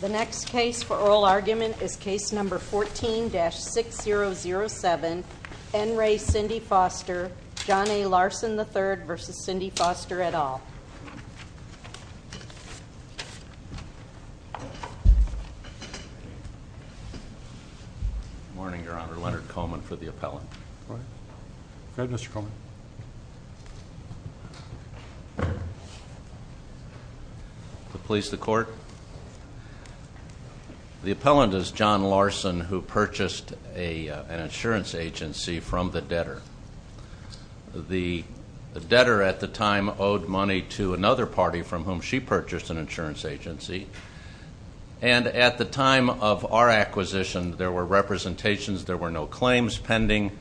The next case for oral argument is case number 14-6007, N. Ray Cindy Foster, John A. Larson III v. Cindy Foster et al. Morning, Your Honor. Leonard Coleman for the appellate. Go ahead, Mr. Coleman. Please, the court. The appellant is John Larson who purchased an insurance agency from the debtor. The debtor at the time owed money to another party from whom she purchased an insurance agency. And at the time of our acquisition, there were representations, there were no claims pending,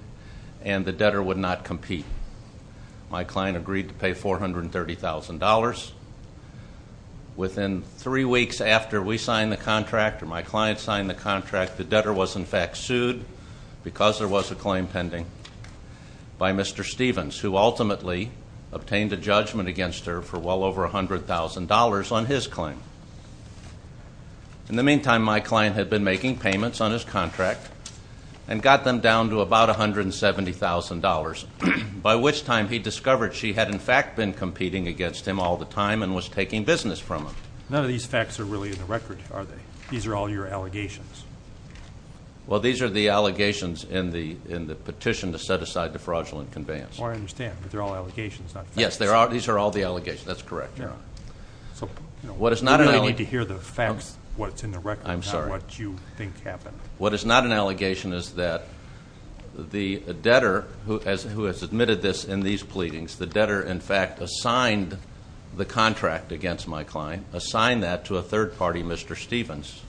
and the debtor would not compete. My client agreed to pay $430,000. Within three weeks after we signed the contract, or my client signed the contract, the debtor was in fact sued because there was a claim pending by Mr. Stevens, who ultimately obtained a judgment against her for well over $100,000 on his claim. In the meantime, my client had been making payments on his contract and got them down to about $170,000, by which time he discovered she had, in fact, been competing against him all the time and was taking business from him. None of these facts are really in the record, are they? These are all your allegations. Well, these are the allegations in the petition to set aside the fraudulent conveyance. Well, I understand, but they're all allegations, not facts. Yes, these are all the allegations. That's correct, Your Honor. So, we really need to hear the facts, what's in the record, not what you think happened. What is not an allegation is that the debtor who has admitted this in these pleadings, the debtor in fact assigned the contract against my client, assigned that to a third party, Mr. Stevens,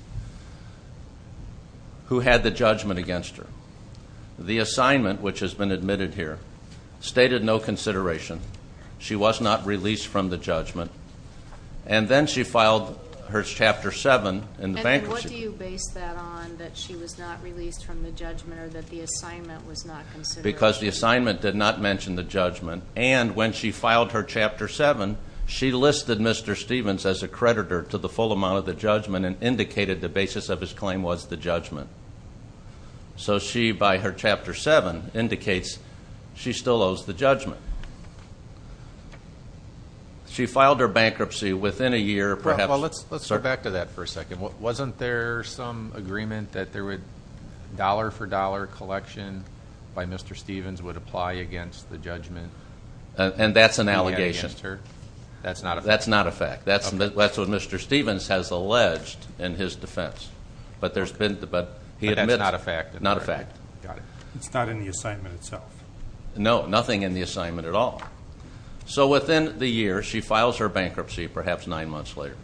who had the judgment against her. The assignment, which has been admitted here, stated no consideration. She was not released from the judgment. And then she filed her chapter seven in the bankruptcy- And then what do you base that on, that she was not released from the judgment or that the assignment was not considered? Because the assignment did not mention the judgment. And when she filed her chapter seven, she listed Mr. Stevens as a creditor to the full amount of the judgment and indicated the basis of his claim was the judgment. So she, by her chapter seven, indicates she still owes the judgment. She filed her bankruptcy within a year, perhaps- Well, let's go back to that for a second. Wasn't there some agreement that there would, dollar for dollar collection by Mr. Stevens would apply against the judgment? And that's an allegation. That's not a fact. That's not a fact. That's what Mr. Stevens has alleged in his defense. But there's been, but he admits- But that's not a fact. Not a fact. Got it. It's not in the assignment itself. No, nothing in the assignment at all. So within the year, she files her bankruptcy, perhaps nine months later.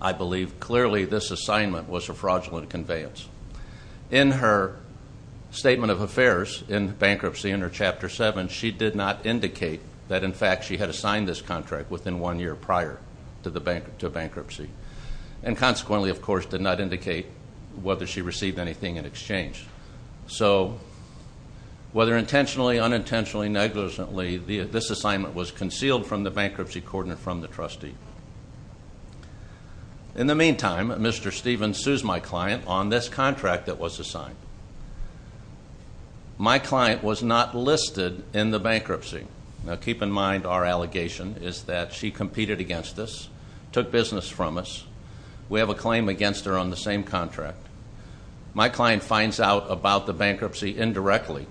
I believe, clearly, this assignment was a fraudulent conveyance. In her statement of affairs in bankruptcy, in her chapter seven, she did not indicate that, in fact, she had assigned this contract within one year prior to a bankruptcy. And consequently, of course, did not indicate whether she received anything in exchange. So, whether intentionally, unintentionally, negligently, this assignment was concealed from the bankruptcy coordinate from the trustee. In the meantime, Mr. Stevens sues my client on this contract that was assigned. My client was not listed in the bankruptcy. Now, keep in mind, our allegation is that she competed against us, took business from us. We have a claim against her on the same contract. My client finds out about the bankruptcy indirectly.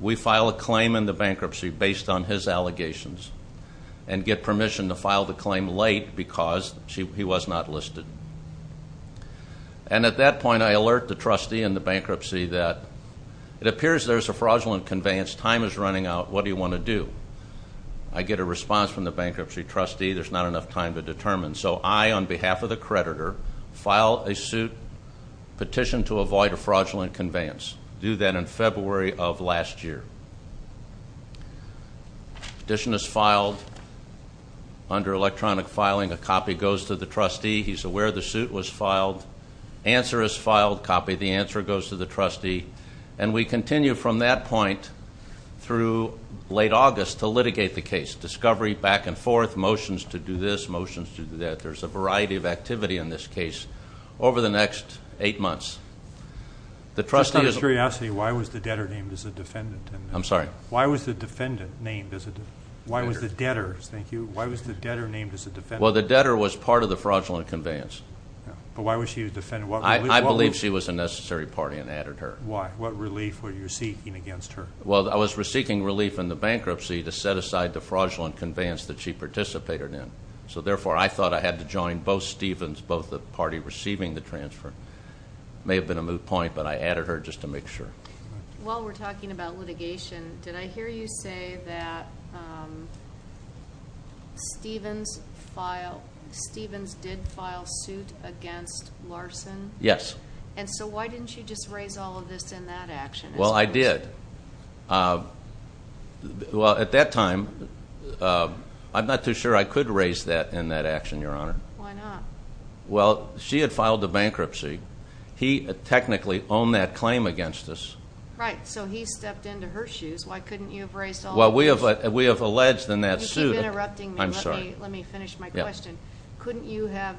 We file a claim in the bankruptcy based on his allegations and get permission to file the claim late because he was not listed. And at that point, I alert the trustee in the bankruptcy that it appears there's a fraudulent conveyance, time is running out, what do you want to do? I get a response from the bankruptcy trustee, there's not enough time to determine. And so I, on behalf of the creditor, file a suit, petition to avoid a fraudulent conveyance. Do that in February of last year. Petition is filed under electronic filing, a copy goes to the trustee, he's aware the suit was filed. Answer is filed, copy the answer goes to the trustee. And we continue from that point through late August to litigate the case. Discovery back and forth, motions to do this, motions to do that. There's a variety of activity in this case over the next eight months. The trustee is- Just out of curiosity, why was the debtor named as a defendant? I'm sorry. Why was the defendant named as a, why was the debtor, thank you, why was the debtor named as a defendant? Well, the debtor was part of the fraudulent conveyance. But why was she a defendant? I believe she was a necessary party and added her. Why? What relief were you seeking against her? Well, I was seeking relief in the bankruptcy to set aside the fraudulent conveyance that she participated in. So therefore, I thought I had to join both Stevens, both the party receiving the transfer. May have been a moot point, but I added her just to make sure. While we're talking about litigation, did I hear you say that Stevens did file suit against Larson? Yes. And so why didn't you just raise all of this in that action? Well, I did. Well, at that time, I'm not too sure I could raise that in that action, Your Honor. Why not? Well, she had filed a bankruptcy. He technically owned that claim against us. Right, so he stepped into her shoes. Why couldn't you have raised all of this? Well, we have alleged in that suit- You keep interrupting me. I'm sorry. Let me finish my question. Couldn't you have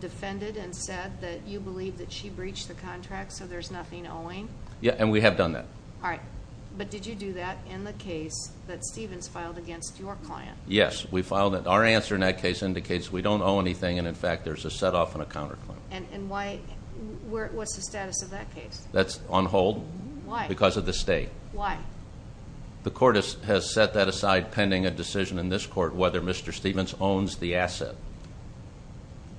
defended and said that you believe that she breached the contract, so there's nothing owing? Yeah, and we have done that. All right, but did you do that in the case that Stevens filed against your client? Yes, we filed it. Our answer in that case indicates we don't owe anything, and in fact, there's a set off and a counterclaim. And why, what's the status of that case? That's on hold. Why? Because of the state. Why? The court has set that aside pending a decision in this court whether Mr. Stevens owns the asset.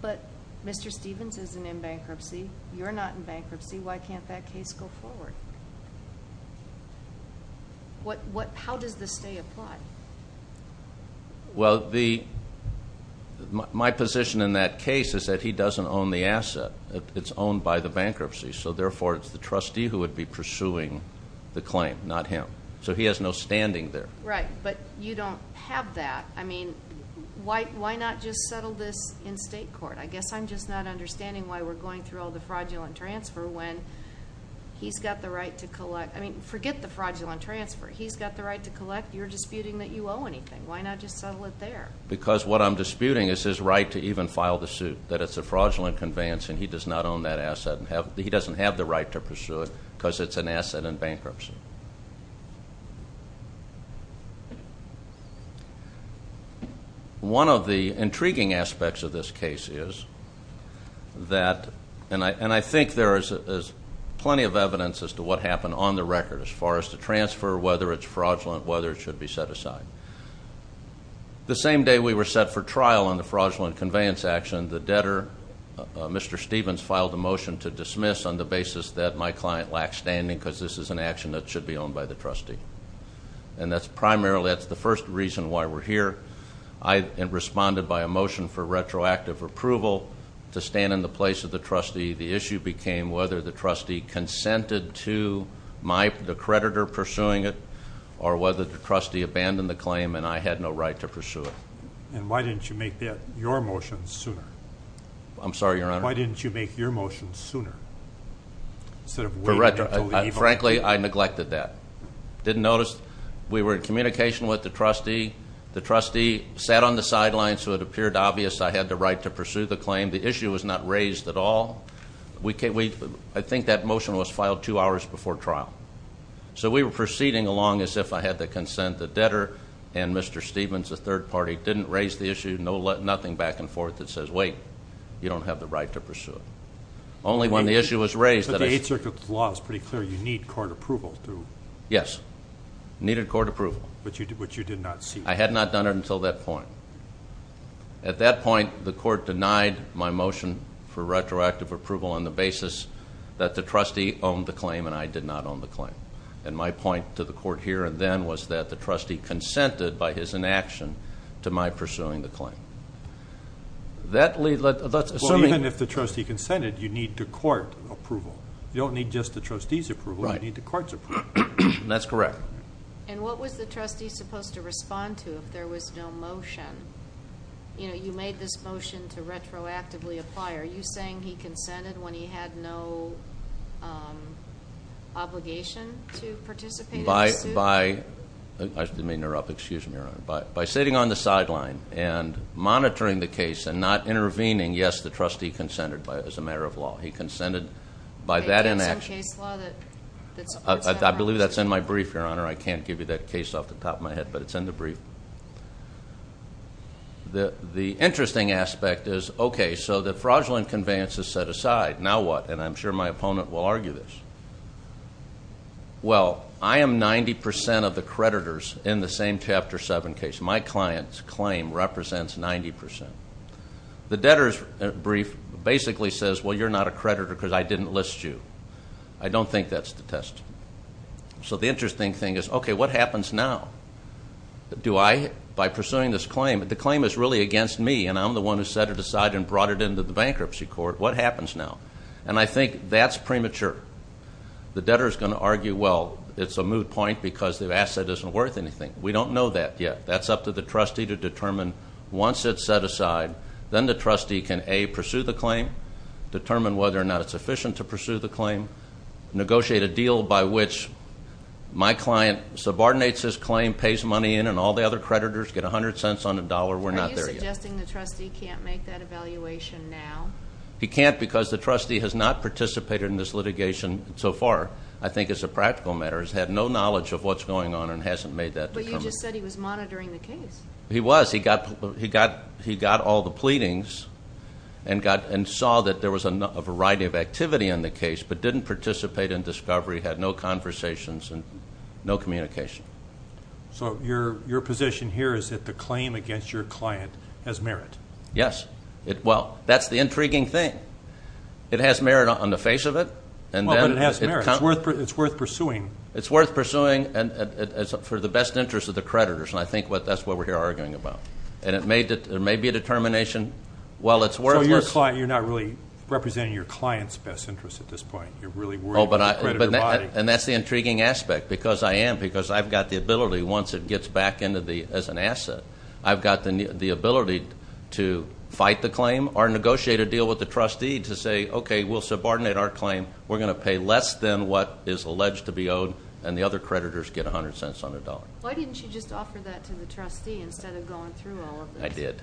But Mr. Stevens isn't in bankruptcy. You're not in bankruptcy. Why can't that case go forward? How does this stay applied? Well, my position in that case is that he doesn't own the asset. It's owned by the bankruptcy. So therefore, it's the trustee who would be pursuing the claim, not him. So he has no standing there. Right, but you don't have that. I mean, why not just settle this in state court? I guess I'm just not understanding why we're going through all the fraudulent transfer when he's got the right to collect. I mean, forget the fraudulent transfer. He's got the right to collect. You're disputing that you owe anything. Why not just settle it there? Because what I'm disputing is his right to even file the suit. That it's a fraudulent conveyance and he does not own that asset and he doesn't have the right to pursue it because it's an asset in bankruptcy. One of the intriguing aspects of this case is that, and I think there is plenty of evidence as to what happened on the record as far as the transfer, whether it's fraudulent, whether it should be set aside. The same day we were set for trial on the fraudulent conveyance action, the debtor, Mr. Stevens filed a motion to dismiss on the basis that my client lacks standing because this is an action that should be owned by the trustee. And that's primarily, that's the first reason why we're here. I responded by a motion for retroactive approval to stand in the place of the trustee. The issue became whether the trustee consented to the creditor pursuing it, or whether the trustee abandoned the claim and I had no right to pursue it. And why didn't you make that your motion sooner? I'm sorry, your honor. Why didn't you make your motion sooner? Instead of waiting until the evaluation. Frankly, I neglected that. Didn't notice. We were in communication with the trustee. The trustee sat on the sidelines, so it appeared obvious I had the right to pursue the claim. The issue was not raised at all. I think that motion was filed two hours before trial. So we were proceeding along as if I had the consent, the debtor and Mr. Stevens, a third party, didn't raise the issue, nothing back and forth that says, wait, you don't have the right to pursue it. Only when the issue was raised that I- But the Eighth Circuit's law is pretty clear, you need court approval to- Yes, needed court approval. But you did not see- I had not done it until that point. At that point, the court denied my motion for retroactive approval on the basis that the trustee owned the claim and I did not own the claim. And my point to the court here and then was that the trustee consented by his inaction to my pursuing the claim. That lead, let's assume- Well, even if the trustee consented, you need the court approval. You don't need just the trustee's approval, you need the court's approval. That's correct. And what was the trustee supposed to respond to if there was no motion? You made this motion to retroactively apply. Are you saying he consented when he had no obligation to participate in the suit? By, I may interrupt, excuse me, Your Honor. By sitting on the sideline and monitoring the case and not intervening, yes, the trustee consented as a matter of law. He consented by that inaction. Is there some case law that supports that? I believe that's in my brief, Your Honor. I can't give you that case off the top of my head, but it's in the brief. The interesting aspect is, okay, so the fraudulent conveyance is set aside. Now what? And I'm sure my opponent will argue this. Well, I am 90% of the creditors in the same Chapter 7 case. My client's claim represents 90%. The debtor's brief basically says, well, you're not a creditor because I didn't list you. I don't think that's the testimony. So the interesting thing is, okay, what happens now? Do I, by pursuing this claim, the claim is really against me, and I'm the one who set it aside and brought it into the bankruptcy court. What happens now? And I think that's premature. The debtor's going to argue, well, it's a moot point because the asset isn't worth anything. We don't know that yet. That's up to the trustee to determine. Once it's set aside, then the trustee can A, pursue the claim, determine whether or not it's efficient to pursue the claim. Negotiate a deal by which my client subordinates his claim, pays money in, and all the other creditors get 100 cents on the dollar. We're not there yet. Are you suggesting the trustee can't make that evaluation now? He can't because the trustee has not participated in this litigation so far. I think as a practical matter, has had no knowledge of what's going on and hasn't made that. But you just said he was monitoring the case. He was. He got all the pleadings and saw that there was a variety of activity in the case, but didn't participate in discovery, had no conversations, and no communication. So your position here is that the claim against your client has merit. Yes. Well, that's the intriguing thing. It has merit on the face of it. And then- Well, but it has merit. It's worth pursuing. It's worth pursuing for the best interest of the creditors. And I think that's what we're here arguing about. And it may be a determination. Well, it's worthless. So you're not really representing your client's best interest at this point. You're really worried about the creditor body. And that's the intriguing aspect, because I am. Because I've got the ability, once it gets back into the, as an asset, I've got the ability to fight the claim or negotiate a deal with the trustee to say, okay, we'll subordinate our claim. We're going to pay less than what is alleged to be owed, and the other creditors get 100 cents on the dollar. Why didn't you just offer that to the trustee instead of going through all of this? I did.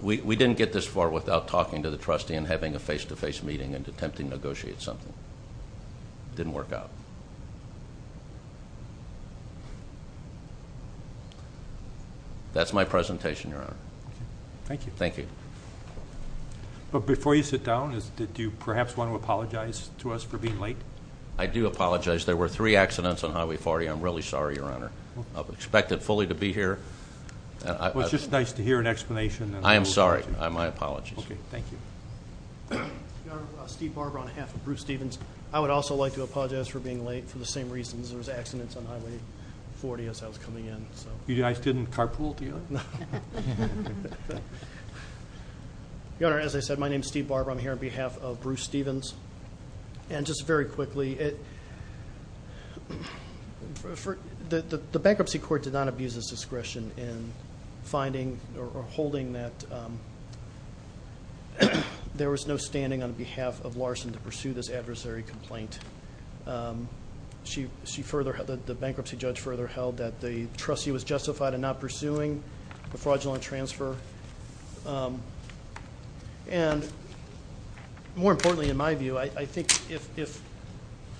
We didn't get this far without talking to the trustee and having a face to face meeting and attempting to negotiate something. Didn't work out. That's my presentation, Your Honor. Okay, thank you. Thank you. But before you sit down, did you perhaps want to apologize to us for being late? I do apologize. There were three accidents on Highway 40. I'm really sorry, Your Honor. I've expected fully to be here. It was just nice to hear an explanation. I am sorry. My apologies. Okay, thank you. Steve Barber on behalf of Bruce Stevens. I would also like to apologize for being late for the same reasons. There was accidents on Highway 40 as I was coming in, so. You guys didn't carpool together? No. Your Honor, as I said, my name's Steve Barber. I'm here on behalf of Bruce Stevens. And just very quickly, the bankruptcy court did not abuse its discretion in finding or holding that there was no standing on behalf of Larson to pursue this adversary complaint. The bankruptcy judge further held that the trustee was justified in not pursuing the fraudulent transfer. And more importantly in my view, I think if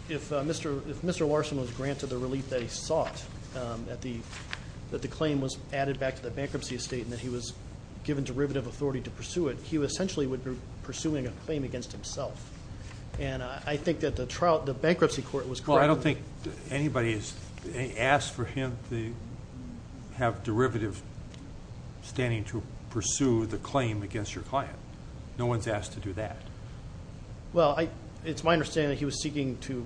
Mr. Larson was granted the relief that he sought, that the claim was added back to the bankruptcy estate and that he was given derivative authority to pursue it, he essentially would be pursuing a claim against himself. And I think that the bankruptcy court was correct. I don't think anybody has asked for him to have derivative standing to pursue the claim against your client. No one's asked to do that. Well, it's my understanding that he was seeking to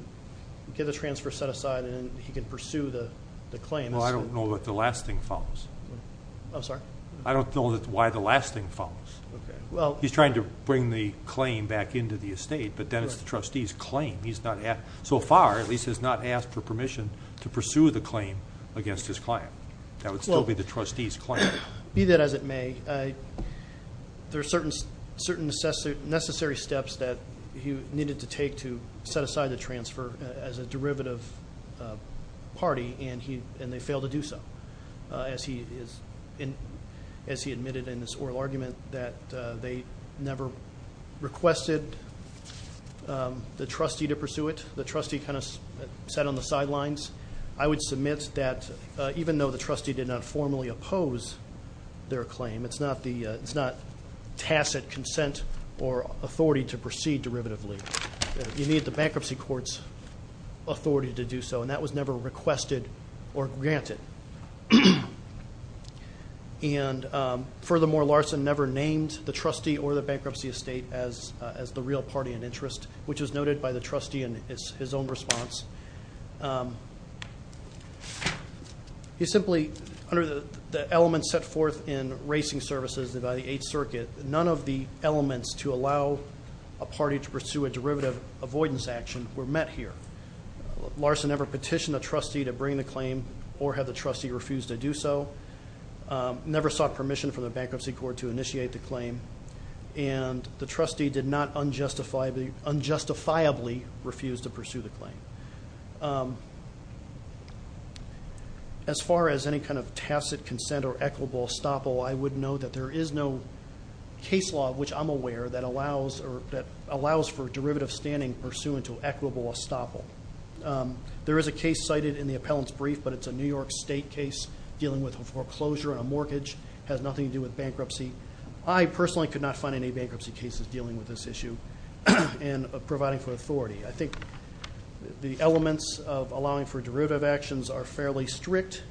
get the transfer set aside and he can pursue the claim. Well, I don't know that the last thing follows. I'm sorry? I don't know why the last thing follows. He's trying to bring the claim back into the estate, but then it's the trustee's claim. So far, at least, he's not asked for permission to pursue the claim against his client. That would still be the trustee's claim. Be that as it may, there are certain necessary steps that he needed to take to set aside the transfer as a derivative party, and they failed to do so, as he admitted in this oral argument, that they never requested the trustee to pursue it. The trustee kind of sat on the sidelines. I would submit that even though the trustee did not formally oppose their claim, it's not tacit consent or authority to proceed derivatively. You need the bankruptcy court's authority to do so, and that was never requested or granted. And furthermore, Larson never named the trustee or the bankruptcy estate as the real party in interest, which was noted by the trustee in his own response. He simply, under the elements set forth in racing services by the Eighth Circuit, none of the elements to allow a party to pursue a derivative avoidance action were met here. Larson never petitioned the trustee to bring the claim or had the trustee refuse to do so. Never sought permission from the bankruptcy court to initiate the claim. And the trustee did not unjustifiably refuse to pursue the claim. As far as any kind of tacit consent or equitable estoppel, I would note that there is no law that allows for derivative standing pursuant to equitable estoppel. There is a case cited in the appellant's brief, but it's a New York State case dealing with foreclosure on a mortgage. Has nothing to do with bankruptcy. I personally could not find any bankruptcy cases dealing with this issue and providing for authority. I think the elements of allowing for derivative actions are fairly strict.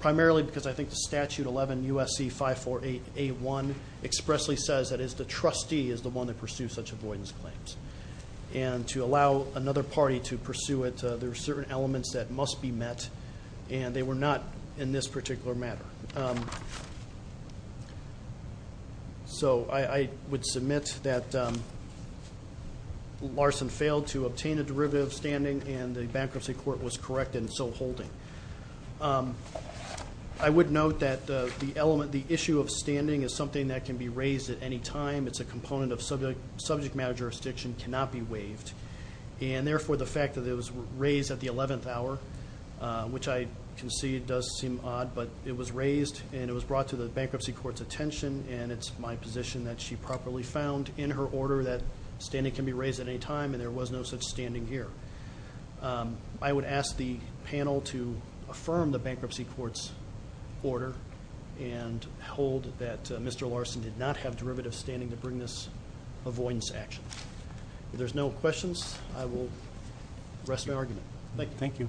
Primarily because I think the statute 11 USC 548A1 expressly says that it's the trustee is the one that pursues such avoidance claims. And to allow another party to pursue it, there are certain elements that must be met. And they were not in this particular matter. So I would submit that Larson failed to obtain a derivative standing and the bankruptcy court was correct in so holding. I would note that the issue of standing is something that can be raised at any time. It's a component of subject matter jurisdiction, cannot be waived. And therefore, the fact that it was raised at the 11th hour, which I concede does seem odd. But it was raised and it was brought to the bankruptcy court's attention. And it's my position that she properly found in her order that standing can be raised at any time and there was no such standing here. I would ask the panel to affirm the bankruptcy court's order and hold that Mr. Larson did not have derivative standing to bring this avoidance action. If there's no questions, I will rest my argument. Thank you.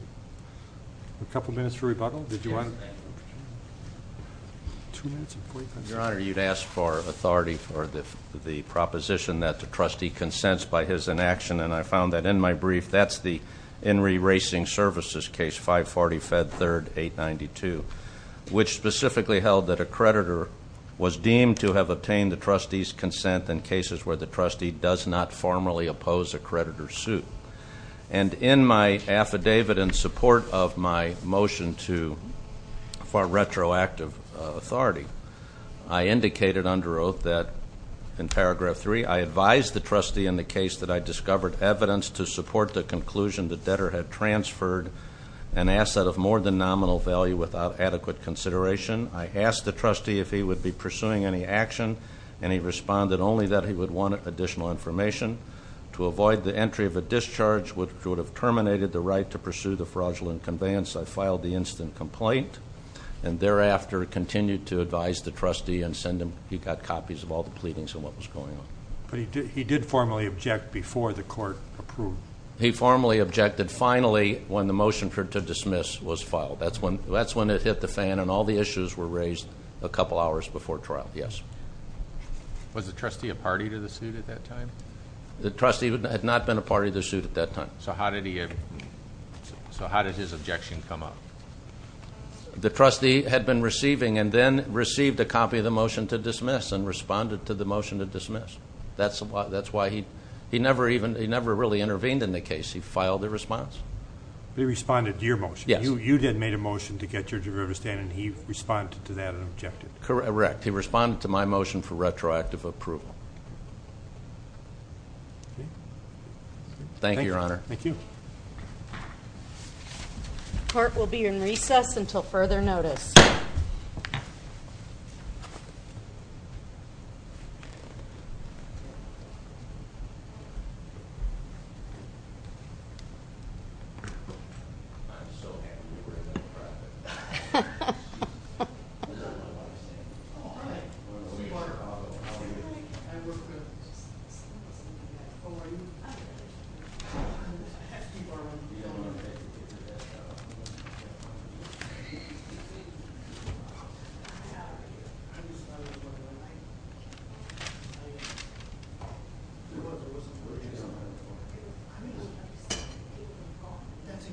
A couple minutes for rebuttal. Did you want? Two minutes and 45 seconds. Your Honor, you'd ask for authority for the proposition that the trustee consents by his inaction. And I found that in my brief, that's the Henry Racing Services case 540 Fed 3rd 892. Which specifically held that a creditor was deemed to have obtained the trustee's consent in cases where the trustee does not formally oppose a creditor's suit. And in my affidavit in support of my motion to for retroactive authority, I indicated under oath that in paragraph three, I advised the trustee in the case that I discovered evidence to support the conclusion that debtor had transferred an asset of more than nominal value without adequate consideration. I asked the trustee if he would be pursuing any action and he responded only that he would want additional information. To avoid the entry of a discharge which would have terminated the right to pursue the fraudulent conveyance, I filed the instant complaint. And thereafter, continued to advise the trustee and send him, he got copies of all the pleadings and what was going on. But he did formally object before the court approved. He formally objected finally when the motion for it to dismiss was filed. That's when it hit the fan and all the issues were raised a couple hours before trial, yes. Was the trustee a party to the suit at that time? The trustee had not been a party to the suit at that time. So how did his objection come up? The trustee had been receiving and then received a copy of the motion to dismiss and responded to the motion to dismiss. That's why he never really intervened in the case. He filed a response. He responded to your motion. Yes. You did make a motion to get your derivative stand and he responded to that and objected. Correct. He responded to my motion for retroactive approval. Thank you, your honor. Thank you. The court will be in recess until further notice.